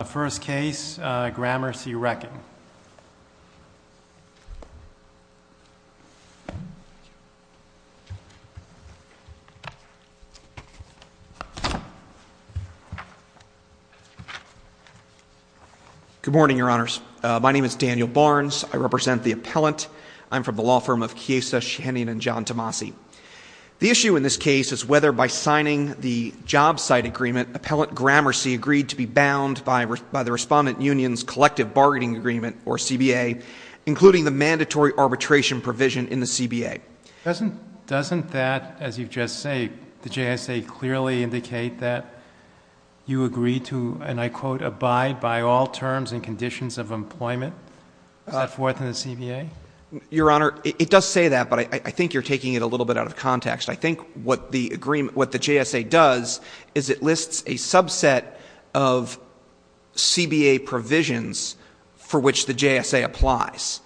The first case, uh, Gramercy Wrecking. Good morning, your honors. Uh, my name is Daniel Barnes. I represent the appellant. I'm from the law firm of Chiesa, Shehanian, and John Tomasi. The issue in this case is whether by signing the job site agreement, appellant Gramercy agreed to be bound by the respondent union's collective bargaining agreement, or CBA, including the mandatory arbitration provision in the CBA, doesn't, doesn't that, as you've just say, the JSA clearly indicate that you agree to, and I quote, abide by all terms and conditions of employment. Uh, fourth in the CBA, your honor, it does say that, but I think you're taking it a little bit out of context. I think what the agreement, what the JSA does is it lists a subset of CBA provisions for which the JSA applies.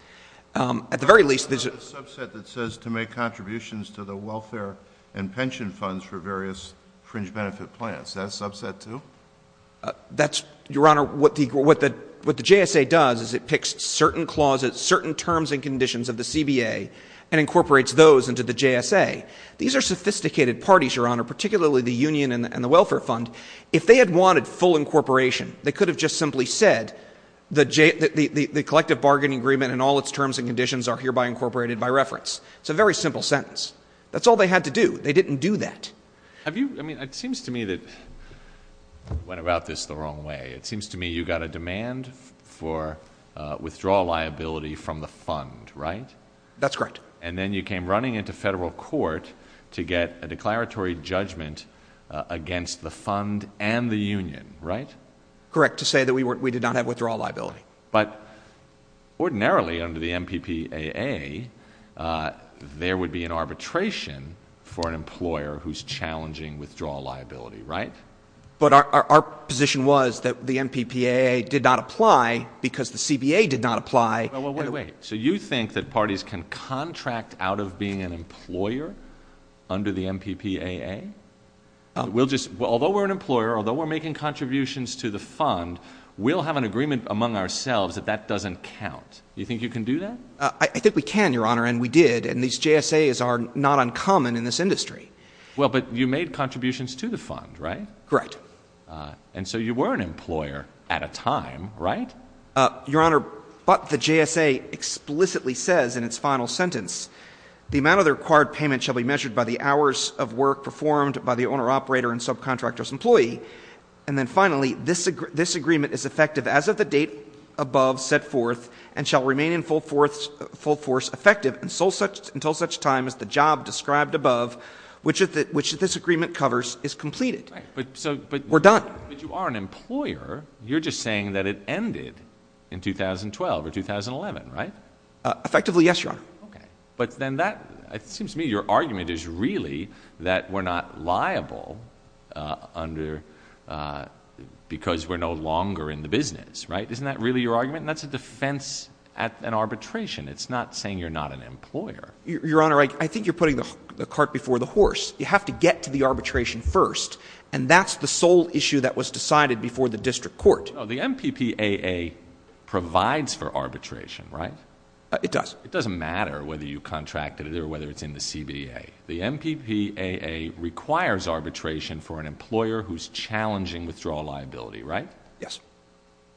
Um, at the very least there's a subset that says to make contributions to the welfare and pension funds for various fringe benefit plans, that subset too. Uh, that's your honor. What the, what the, what the JSA does is it picks certain clauses, certain terms and conditions of the CBA and incorporates those into the JSA. These are sophisticated parties, your honor, particularly the union and the welfare fund, if they had wanted full incorporation, they could have just simply said the J, the, the, the collective bargaining agreement and all its terms and conditions are hereby incorporated by reference. It's a very simple sentence. That's all they had to do. They didn't do that. Have you, I mean, it seems to me that went about this the wrong way. It seems to me you got a demand for a withdrawal liability from the fund, right? That's correct. And then you came running into federal court to get a declaratory judgment, uh, against the fund and the union, right? Correct. To say that we weren't, we did not have withdrawal liability, but ordinarily under the MPPAA, uh, there would be an arbitration for an employer who's challenging withdrawal liability. Right. But our, our, our position was that the MPPAA did not apply because the CBA did not apply. So you think that parties can contract out of being an employer under the MPPAA? We'll just, well, although we're an employer, although we're making contributions to the fund, we'll have an agreement among ourselves that that doesn't count. You think you can do that? Uh, I think we can, Your Honor. And we did. And these JSAs are not uncommon in this industry. Well, but you made contributions to the fund, right? Correct. Uh, and so you were an employer at a time, right? Uh, Your Honor, but the JSA explicitly says in its final sentence, the amount of the required payment shall be measured by the hours of work performed by the owner, operator, and subcontractor's employee. And then finally, this, this agreement is effective as of the date above set forth and shall remain in full force, full force effective and so such until such time as the job described above, which is that, which this agreement covers is completed, but we're done. But you are an employer. You're just saying that it ended in 2012 or 2011, right? Uh, effectively. Yes, Your Honor. Okay. But then that seems to me, your argument is really that we're not liable, uh, under, uh, because we're no longer in the business, right? Isn't that really your argument? And that's a defense at an arbitration. It's not saying you're not an employer. Your Honor, I think you're putting the cart before the horse. You have to get to the arbitration first. And that's the sole issue that was decided before the district court. Oh, the MPPAA provides for arbitration, right? It does. It doesn't matter whether you contracted it or whether it's in the CBA. The MPPAA requires arbitration for an employer who's challenging withdrawal liability, right? Yes.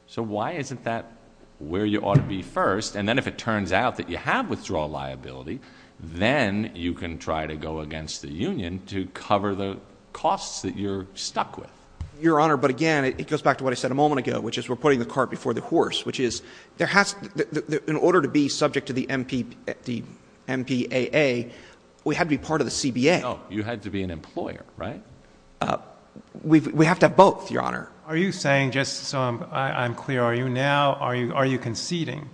So why isn't that where you ought to be first? And then if it turns out that you have withdrawal liability, then you can try to go against the union to cover the costs that you're stuck with. Your Honor. But again, it goes back to what I said a moment ago, which is we're putting the cart before the horse, which is there has to, in order to be subject to the MPP, the MPAA, we had to be part of the CBA. You had to be an employer, right? Uh, we've, we have to have both, Your Honor. Are you saying just so I'm clear, are you now, are you, are you conceding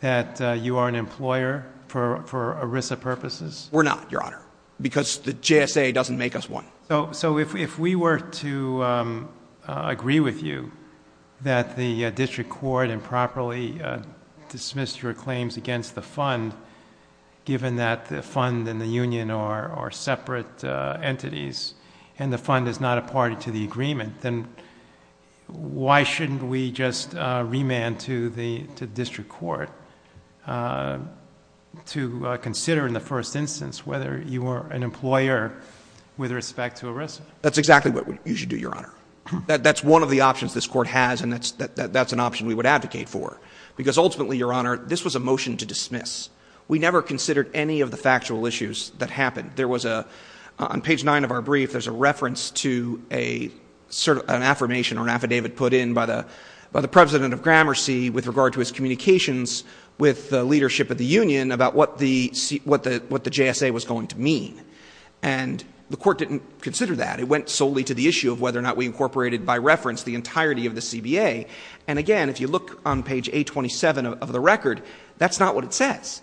that you are an employer for, for ERISA purposes? We're not, Your Honor. Because the GSA doesn't make us one. So, so if, if we were to, um, uh, agree with you that the, uh, district court improperly, uh, dismissed your claims against the fund, given that the fund and the union are, are separate, uh, entities and the fund is not a party to the agreement, then why shouldn't we just, uh, remand to the, to the district court, uh, to, uh, consider in the first instance, whether you are an employer with respect to ERISA? That's exactly what you should do, Your Honor. That, that's one of the options this court has. And that's, that, that, that's an option we would advocate for because ultimately, Your Honor, this was a motion to dismiss, we never considered any of the factual issues that happened. There was a, on page nine of our brief, there's a reference to a, sort of an affirmation or an affidavit put in by the, by the president of Gramercy with regard to his communications with the leadership of the union about what the, what the, what the JSA was going to mean. And the court didn't consider that. It went solely to the issue of whether or not we incorporated by reference, the entirety of the CBA. And again, if you look on page 827 of the record, that's not what it says.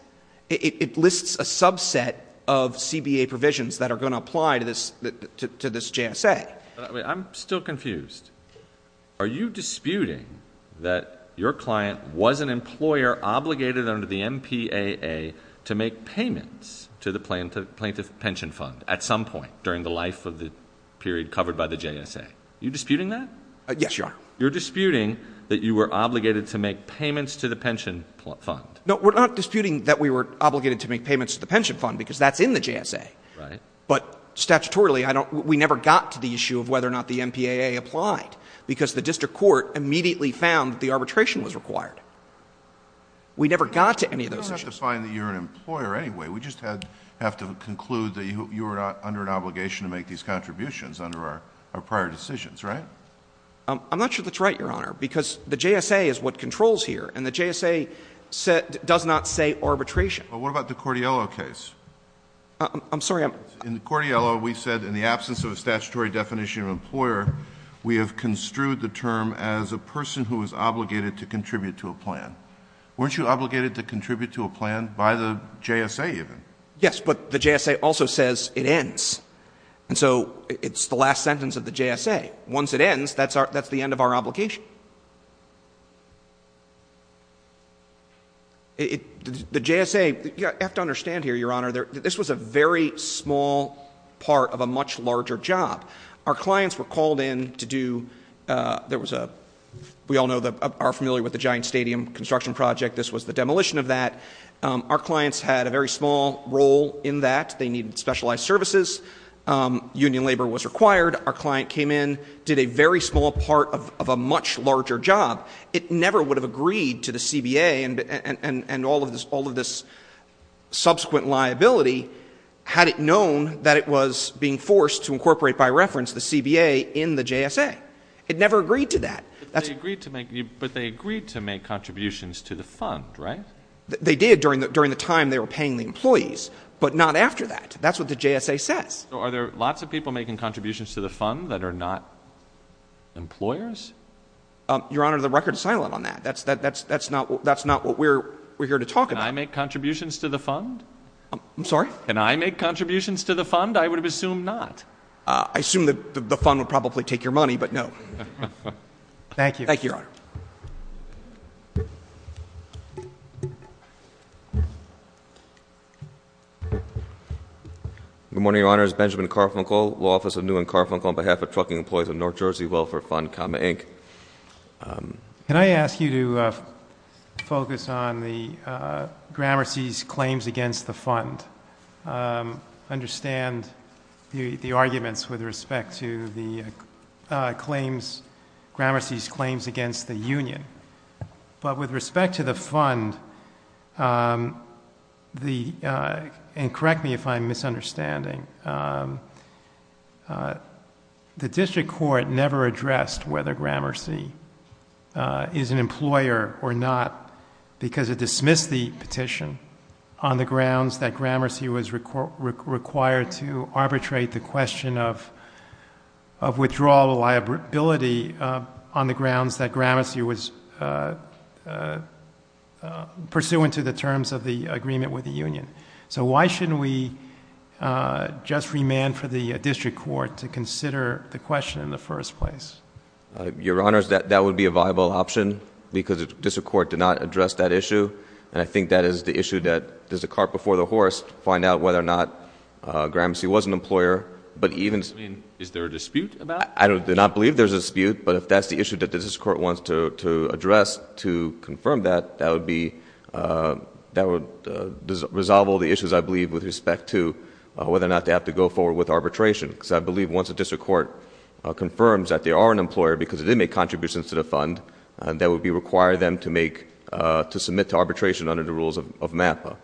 It lists a subset of CBA provisions that are going to apply to this, to this JSA. I'm still confused. Are you disputing that your client was an employer obligated under the MPAA to make payments to the plaintiff, plaintiff pension fund at some point during the life of the period covered by the JSA? You disputing that? Yes, Your Honor. You're disputing that you were obligated to make payments to the pension fund. No, we're not disputing that we were obligated to make payments to the pension fund because that's in the JSA. Right. But statutorily, I don't, we never got to the issue of whether or not the MPAA applied because the district court immediately found that the arbitration was required. We never got to any of those issues. You don't have to find that you're an employer anyway. We just had, have to conclude that you were under an obligation to make these contributions under our prior decisions, right? I'm not sure that's right, Your Honor, because the JSA is what controls here and the JSA does not say arbitration. But what about the Cordiello case? I'm sorry. In the Cordiello, we said in the absence of a statutory definition of employer, we have construed the term as a person who is obligated to contribute to a plan. Weren't you obligated to contribute to a plan by the JSA even? Yes, but the JSA also says it ends. And so it's the last sentence of the JSA. Once it ends, that's our, that's the end of our obligation. It, the JSA, you have to understand here, Your Honor, there, this was a very small part of a much larger job. Our clients were called in to do, there was a, we all know that, are familiar with the giant stadium construction project. This was the demolition of that. Our clients had a very small role in that. They needed specialized services. Union labor was required. Our client came in, did a very small part of a much larger job. It never would have agreed to the CBA and all of this, all of this subsequent liability, had it known that it was being forced to incorporate by reference, the CBA in the JSA, it never agreed to that. That's what they agreed to make you, but they agreed to make contributions to the fund, right? They did during the, during the time they were paying the employees, but not after that. That's what the JSA says. So are there lots of people making contributions to the fund that are not employers? Um, Your Honor, the record is silent on that. That's, that, that's, that's not, that's not what we're, we're here to talk about. Can I make contributions to the fund? I'm sorry? Can I make contributions to the fund? I would have assumed not. Uh, I assume that the fund would probably take your money, but no. Thank you. Thank you, Your Honor. Good morning, Your Honors. Benjamin Carfunkle, law office of New and Carfunkle on behalf of trucking employees of North Jersey Welfare Fund, comma Inc. Um, can I ask you to, uh, focus on the, uh, Gramercy's claims against the fund, um, understand the, the arguments with respect to the, uh, claims, Gramercy's claims against the union, but with respect to the fund, um, the, uh, and correct me if I'm misunderstanding, um, uh, the district court never addressed whether Gramercy, uh, is an employer or not because it dismissed the petition on the grounds that Gramercy was required to arbitrate the question of, of withdrawal liability, uh, on the grounds that Gramercy was, uh, uh, uh, pursuant to the terms of the agreement with the union. So why shouldn't we, uh, just remand for the district court to consider the question in the first place? Uh, Your Honors, that, that would be a viable option because the district court did not address that issue. And I think that is the issue that there's a cart before the horse to find out whether or not, uh, Gramercy was an employer, but even... I mean, is there a dispute about it? I do not believe there's a dispute, but if that's the issue that the district court wants to, to address to confirm that, that would be, uh, that would, uh, resolve all the issues I believe with respect to, uh, whether or not they have to go forward with arbitration because I believe once the district court, uh, confirms that they are an employer because it did make contributions to the uh, to submit to arbitration under the rules of, of MAPA.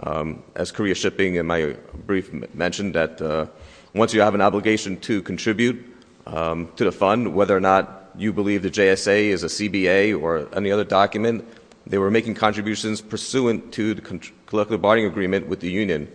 Um, as Korea Shipping in my brief mentioned that, uh, once you have an obligation to contribute, um, to the fund, whether or not you believe the JSA is a CBA or any other document, they were making contributions pursuant to the collective bargaining agreement with the union.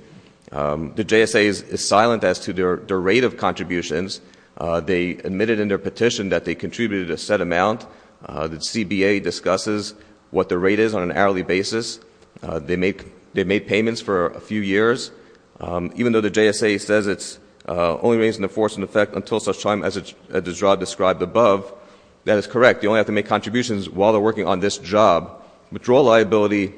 Um, the JSA is silent as to their, their rate of contributions. Uh, they admitted in their petition that they contributed a set amount, uh, that what the rate is on an hourly basis. Uh, they make, they made payments for a few years. Um, even though the JSA says it's, uh, only raising the force in effect until such time as it's described above, that is correct. They only have to make contributions while they're working on this job. Withdrawal liability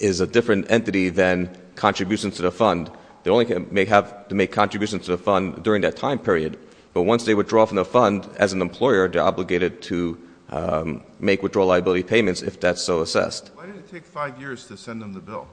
is a different entity than contributions to the fund. They only may have to make contributions to the fund during that time period, but once they withdraw from the fund as an employer, they're obligated to, um, make withdrawal liability payments if that's so assessed. Why did it take five years to send them the bill?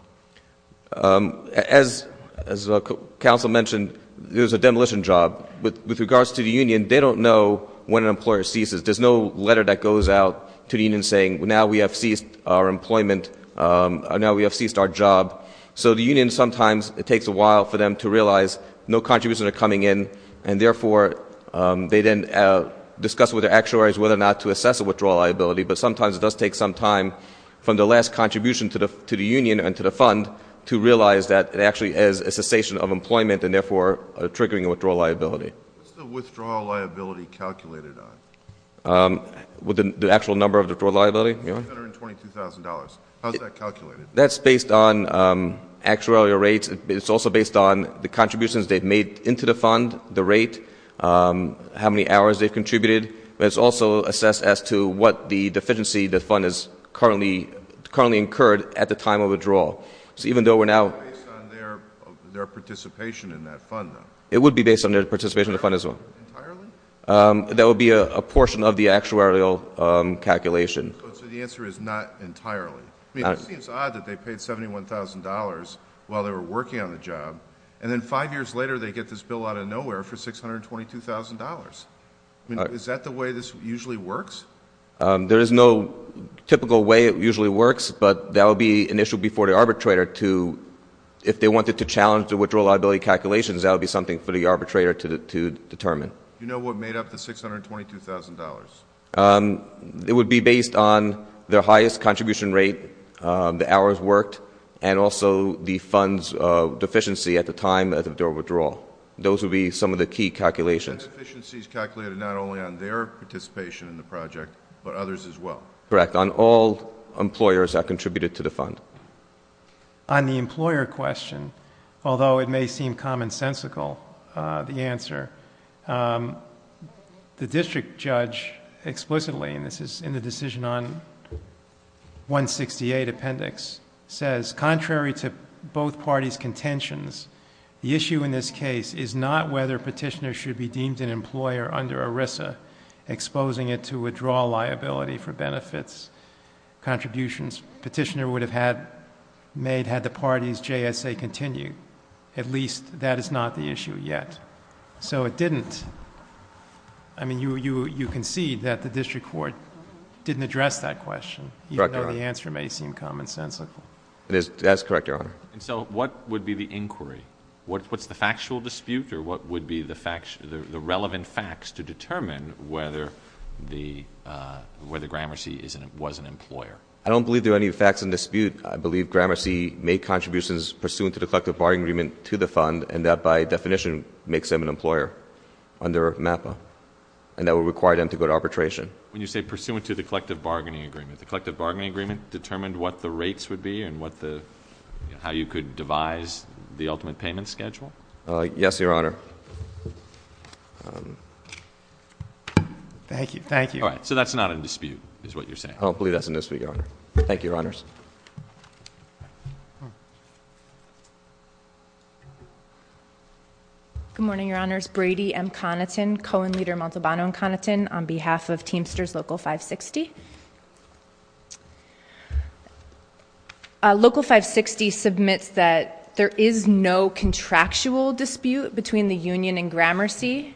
Um, as, as the council mentioned, there's a demolition job with, with regards to the union, they don't know when an employer ceases. There's no letter that goes out to the union saying, well, now we have ceased our employment, um, now we have ceased our job. So the union, sometimes it takes a while for them to realize no contributions are coming in and therefore, um, they then, uh, discuss with their actuaries whether or not to assess a withdrawal liability. But sometimes it does take some time from the last contribution to the, to the union and to the fund to realize that it actually is a cessation of employment and therefore, uh, triggering a withdrawal liability. What's the withdrawal liability calculated on? Um, with the actual number of the withdrawal liability? $522,000. How's that calculated? That's based on, um, actuarial rates. It's also based on the contributions they've made into the fund, the rate, um, how many hours they've contributed. But it's also assessed as to what the deficiency, the fund is currently, currently incurred at the time of withdrawal. So even though we're now... It's not based on their, their participation in that fund, though. It would be based on their participation in the fund as well. Um, that would be a portion of the actuarial, um, calculation. So the answer is not entirely. I mean, it seems odd that they paid $71,000 while they were working on the job and then five years later, they get this bill out of nowhere for $622,000. I mean, is that the way this usually works? Um, there is no typical way it usually works, but that would be an issue before the arbitrator to, if they wanted to challenge the withdrawal liability calculations, that would be something for the arbitrator to determine. You know what made up the $622,000? Um, it would be based on their highest contribution rate, um, the hours worked, and also the fund's, uh, deficiency at the time of their withdrawal. Those would be some of the key calculations. Deficiencies calculated, not only on their participation in the project, but others as well. Correct. On all employers that contributed to the fund. On the employer question, although it may seem commonsensical, uh, the answer, um, the district judge explicitly, and this is in the decision on 168 appendix, says contrary to both parties' contentions, the issue in this case is not whether petitioners should be deemed an employer under ERISA, exposing it to withdrawal liability for benefits contributions. Petitioner would have had made, had the parties JSA continued. At least that is not the issue yet. So it didn't, I mean, you, you, you concede that the district court didn't address that question, even though the answer may seem commonsensical. That's correct, Your Honor. And so what would be the inquiry? What's the factual dispute or what would be the facts, the relevant facts to determine whether the, uh, whether Gramercy is an, was an employer? I don't believe there are any facts in dispute. I believe Gramercy made contributions pursuant to the collective bargaining agreement to the fund, and that by definition makes them an employer under MAPA, and that would require them to go to arbitration. When you say pursuant to the collective bargaining agreement, the collective bargaining agreement determined what the rates would be and what the, you know, would devise the ultimate payment schedule? Uh, yes, Your Honor. Thank you. Thank you. All right. So that's not in dispute is what you're saying. I don't believe that's in dispute, Your Honor. Thank you, Your Honors. Good morning, Your Honors. Brady M. Connaughton, Cohen leader Montalbano and Connaughton on behalf of Teamsters Local 560. Uh, Local 560 submits that there is no contractual dispute between the union and Gramercy.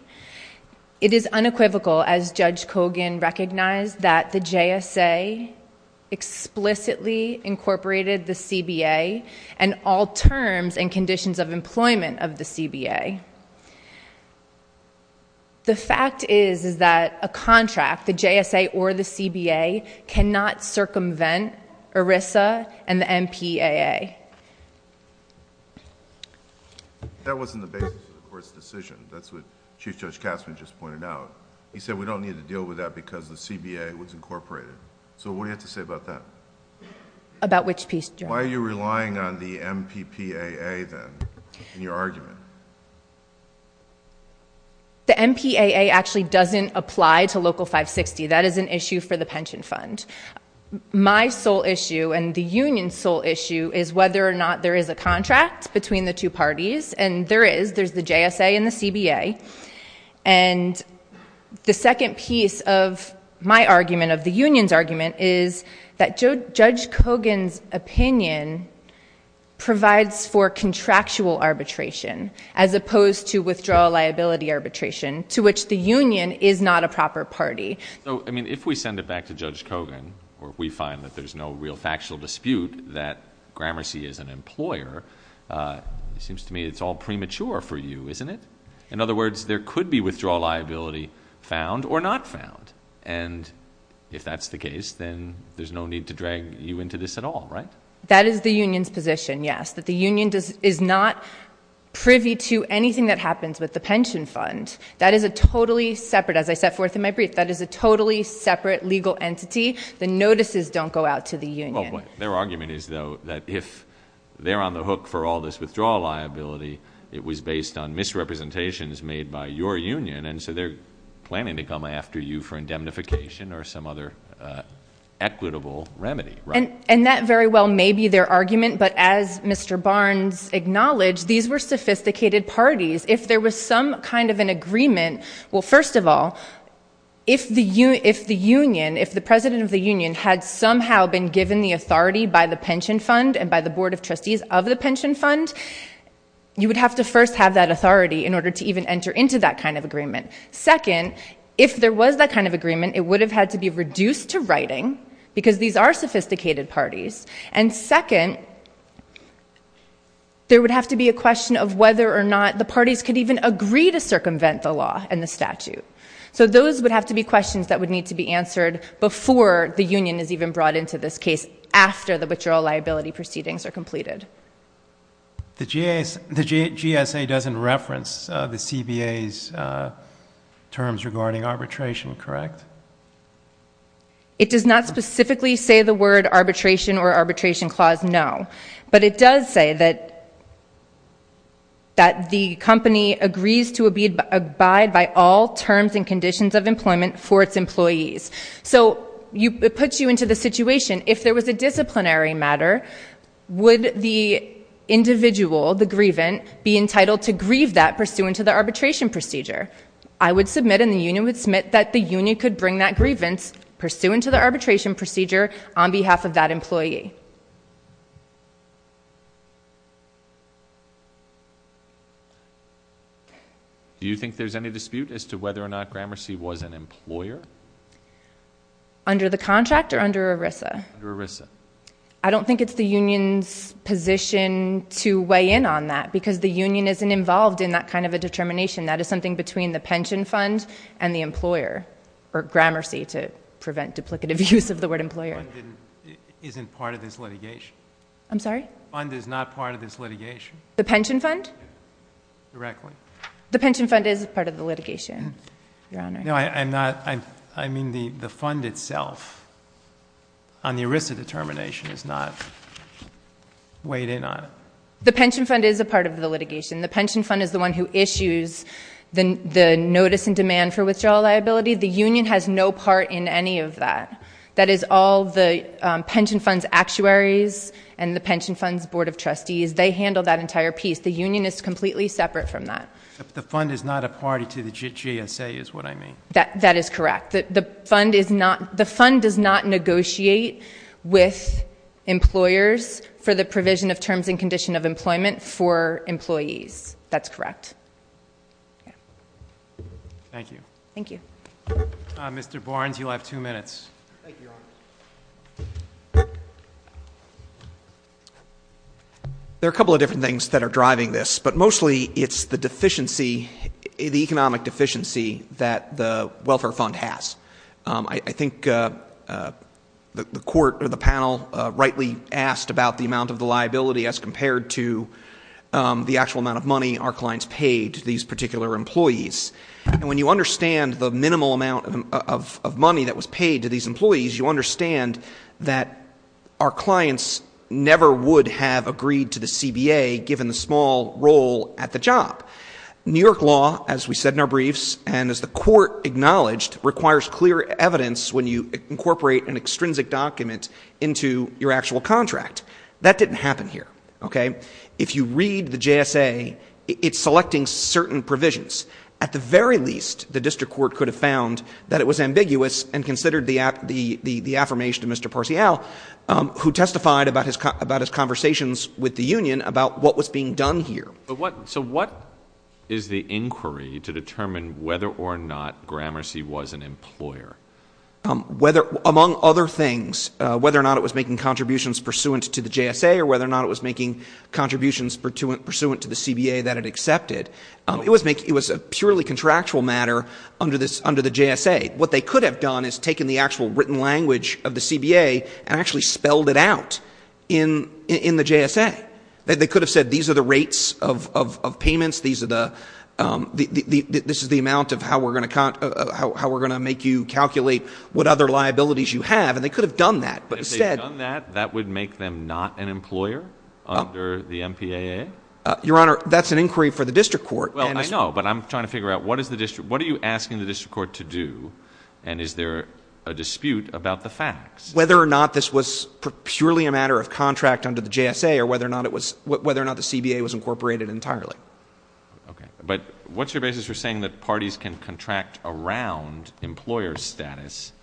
It is unequivocal as Judge Kogan recognized that the JSA explicitly incorporated the CBA and all terms and conditions of employment of the CBA. The fact is, is that a contract, the JSA or the CBA, cannot circumvent ERISA and the MPAA. That wasn't the basis of the court's decision. That's what Chief Judge Kassman just pointed out. He said we don't need to deal with that because the CBA was incorporated. So what do you have to say about that? About which piece, Your Honor? Why are you relying on the MPPAA then in your argument? The MPAA actually doesn't apply to Local 560. That is an issue for the pension fund. My sole issue and the union's sole issue is whether or not there is a contract between the two parties. And there is, there's the JSA and the CBA. And the second piece of my argument, of the union's argument, is that Judge Kogan's opinion provides for contractual arbitration. As opposed to withdrawal liability arbitration, to which the union is not a proper party. So, I mean, if we send it back to Judge Kogan, or we find that there's no real factual dispute that Gramercy is an employer, it seems to me it's all premature for you, isn't it? In other words, there could be withdrawal liability found or not found. And if that's the case, then there's no need to drag you into this at all, right? That is the union's position, yes. That the union does, is not privy to anything that happens with the pension fund. That is a totally separate, as I set forth in my brief, that is a totally separate legal entity. The notices don't go out to the union. Well, their argument is though, that if they're on the hook for all this withdrawal liability, it was based on misrepresentations made by your union. And so they're planning to come after you for indemnification or some other equitable remedy, right? And that very well may be their argument, but as Mr. Barnes acknowledged, these were sophisticated parties. If there was some kind of an agreement, well, first of all, if the union, if the president of the union had somehow been given the authority by the pension fund and by the board of trustees of the pension fund, you would have to first have that authority in order to even enter into that kind of agreement. Second, if there was that kind of agreement, it would have had to be reduced to writing because these are sophisticated parties. And second, there would have to be a question of whether or not the parties could even agree to circumvent the law and the statute. So those would have to be questions that would need to be answered before the union is even brought into this case after the withdrawal liability proceedings are completed. The GSA doesn't reference the CBA's terms regarding arbitration, correct? It does not specifically say the word arbitration or arbitration clause, no. But it does say that, that the company agrees to abide by all terms and conditions of employment for its employees. So it puts you into the situation. If there was a disciplinary matter, would the individual, the grievant, be entitled to grieve that pursuant to the arbitration procedure? I would submit and the union would submit that the union could bring that person to the arbitration procedure on behalf of that employee. Do you think there's any dispute as to whether or not Gramercy was an employer? Under the contract or under ERISA? Under ERISA. I don't think it's the union's position to weigh in on that because the union isn't involved in that kind of a determination. That is something between the pension fund and the employer, or Gramercy to prevent duplicative use of the word employer. The pension fund isn't part of this litigation. I'm sorry? The pension fund is not part of this litigation. The pension fund? Directly. The pension fund is part of the litigation, Your Honor. No, I'm not. I mean, the fund itself on the ERISA determination is not weighed in on it. The pension fund is a part of the litigation. The pension fund is the one who issues the notice and demand for withdrawal liability. The union has no part in any of that. That is all the pension funds actuaries and the pension funds board of trustees. They handle that entire piece. The union is completely separate from that. The fund is not a party to the GSA is what I mean. That is correct. The fund does not negotiate with employers for the provision of terms and condition of employment for employees. That's correct. Thank you. Thank you. Mr. Barnes, you'll have two minutes. There are a couple of different things that are driving this, but mostly it's the deficiency, the economic deficiency that the welfare fund has. I think the court or the panel rightly asked about the amount of the liability as compared to the actual amount of money our clients paid these particular employees. When you understand the minimal amount of money that was paid to these employees, you understand that our clients never would have agreed to the CBA given the small role at the job. New York law, as we said in our briefs, and as the court acknowledged, requires clear evidence when you incorporate an extrinsic document into your actual contract. That didn't happen here. If you read the GSA, it's selecting certain provisions. At the very least, the district court could have found that it was ambiguous and considered the affirmation of Mr. Parcial, who testified about his conversations with the union about what was being done here. So what is the inquiry to determine whether or not Gramercy was an employer? Among other things, whether or not it was making contributions pursuant to the GSA or whether or not it was making contributions pursuant to the CBA that it was a purely contractual matter under the GSA. What they could have done is taken the actual written language of the CBA and actually spelled it out in the GSA. They could have said, these are the rates of payments. This is the amount of how we're going to make you calculate what other liabilities you have. And they could have done that. If they had done that, that would make them not an employer under the MPAA? Your Honor, that's an inquiry for the district court. Well, I know, but I'm trying to figure out what is the district, what are you asking the district court to do? And is there a dispute about the facts? Whether or not this was purely a matter of contract under the GSA or whether or not it was, whether or not the CBA was incorporated entirely. Okay. But what's your basis for saying that parties can contract around employer's status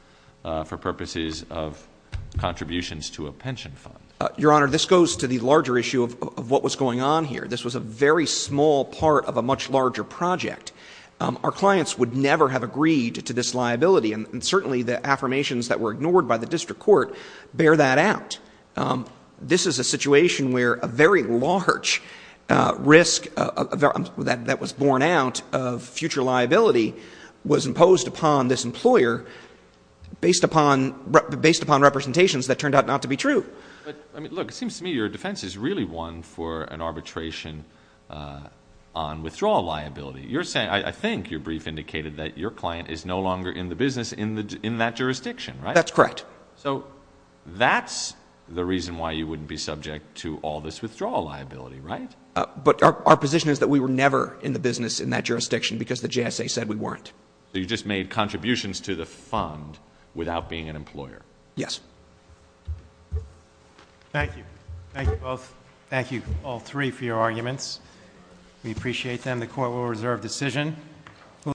for purposes of contributions to a pension fund? Your Honor, this goes to the larger issue of what was going on here. This was a very small part of a much larger project. Our clients would never have agreed to this liability. And certainly the affirmations that were ignored by the district court bear that out. This is a situation where a very large risk that was borne out of future liability was imposed upon this employer based upon representations that turned out not to be true. But I mean, look, it seems to me your defense is really one for an arbitration on withdrawal liability. You're saying, I think your brief indicated that your client is no longer in the business in that jurisdiction, right? That's correct. So that's the reason why you wouldn't be subject to all this withdrawal liability, right? But our position is that we were never in the business in that jurisdiction because the GSA said we weren't. So you just made contributions to the fund without being an employer? Yes. Thank you. Thank you both. Thank you all three for your arguments. We appreciate them. The court will reserve decision.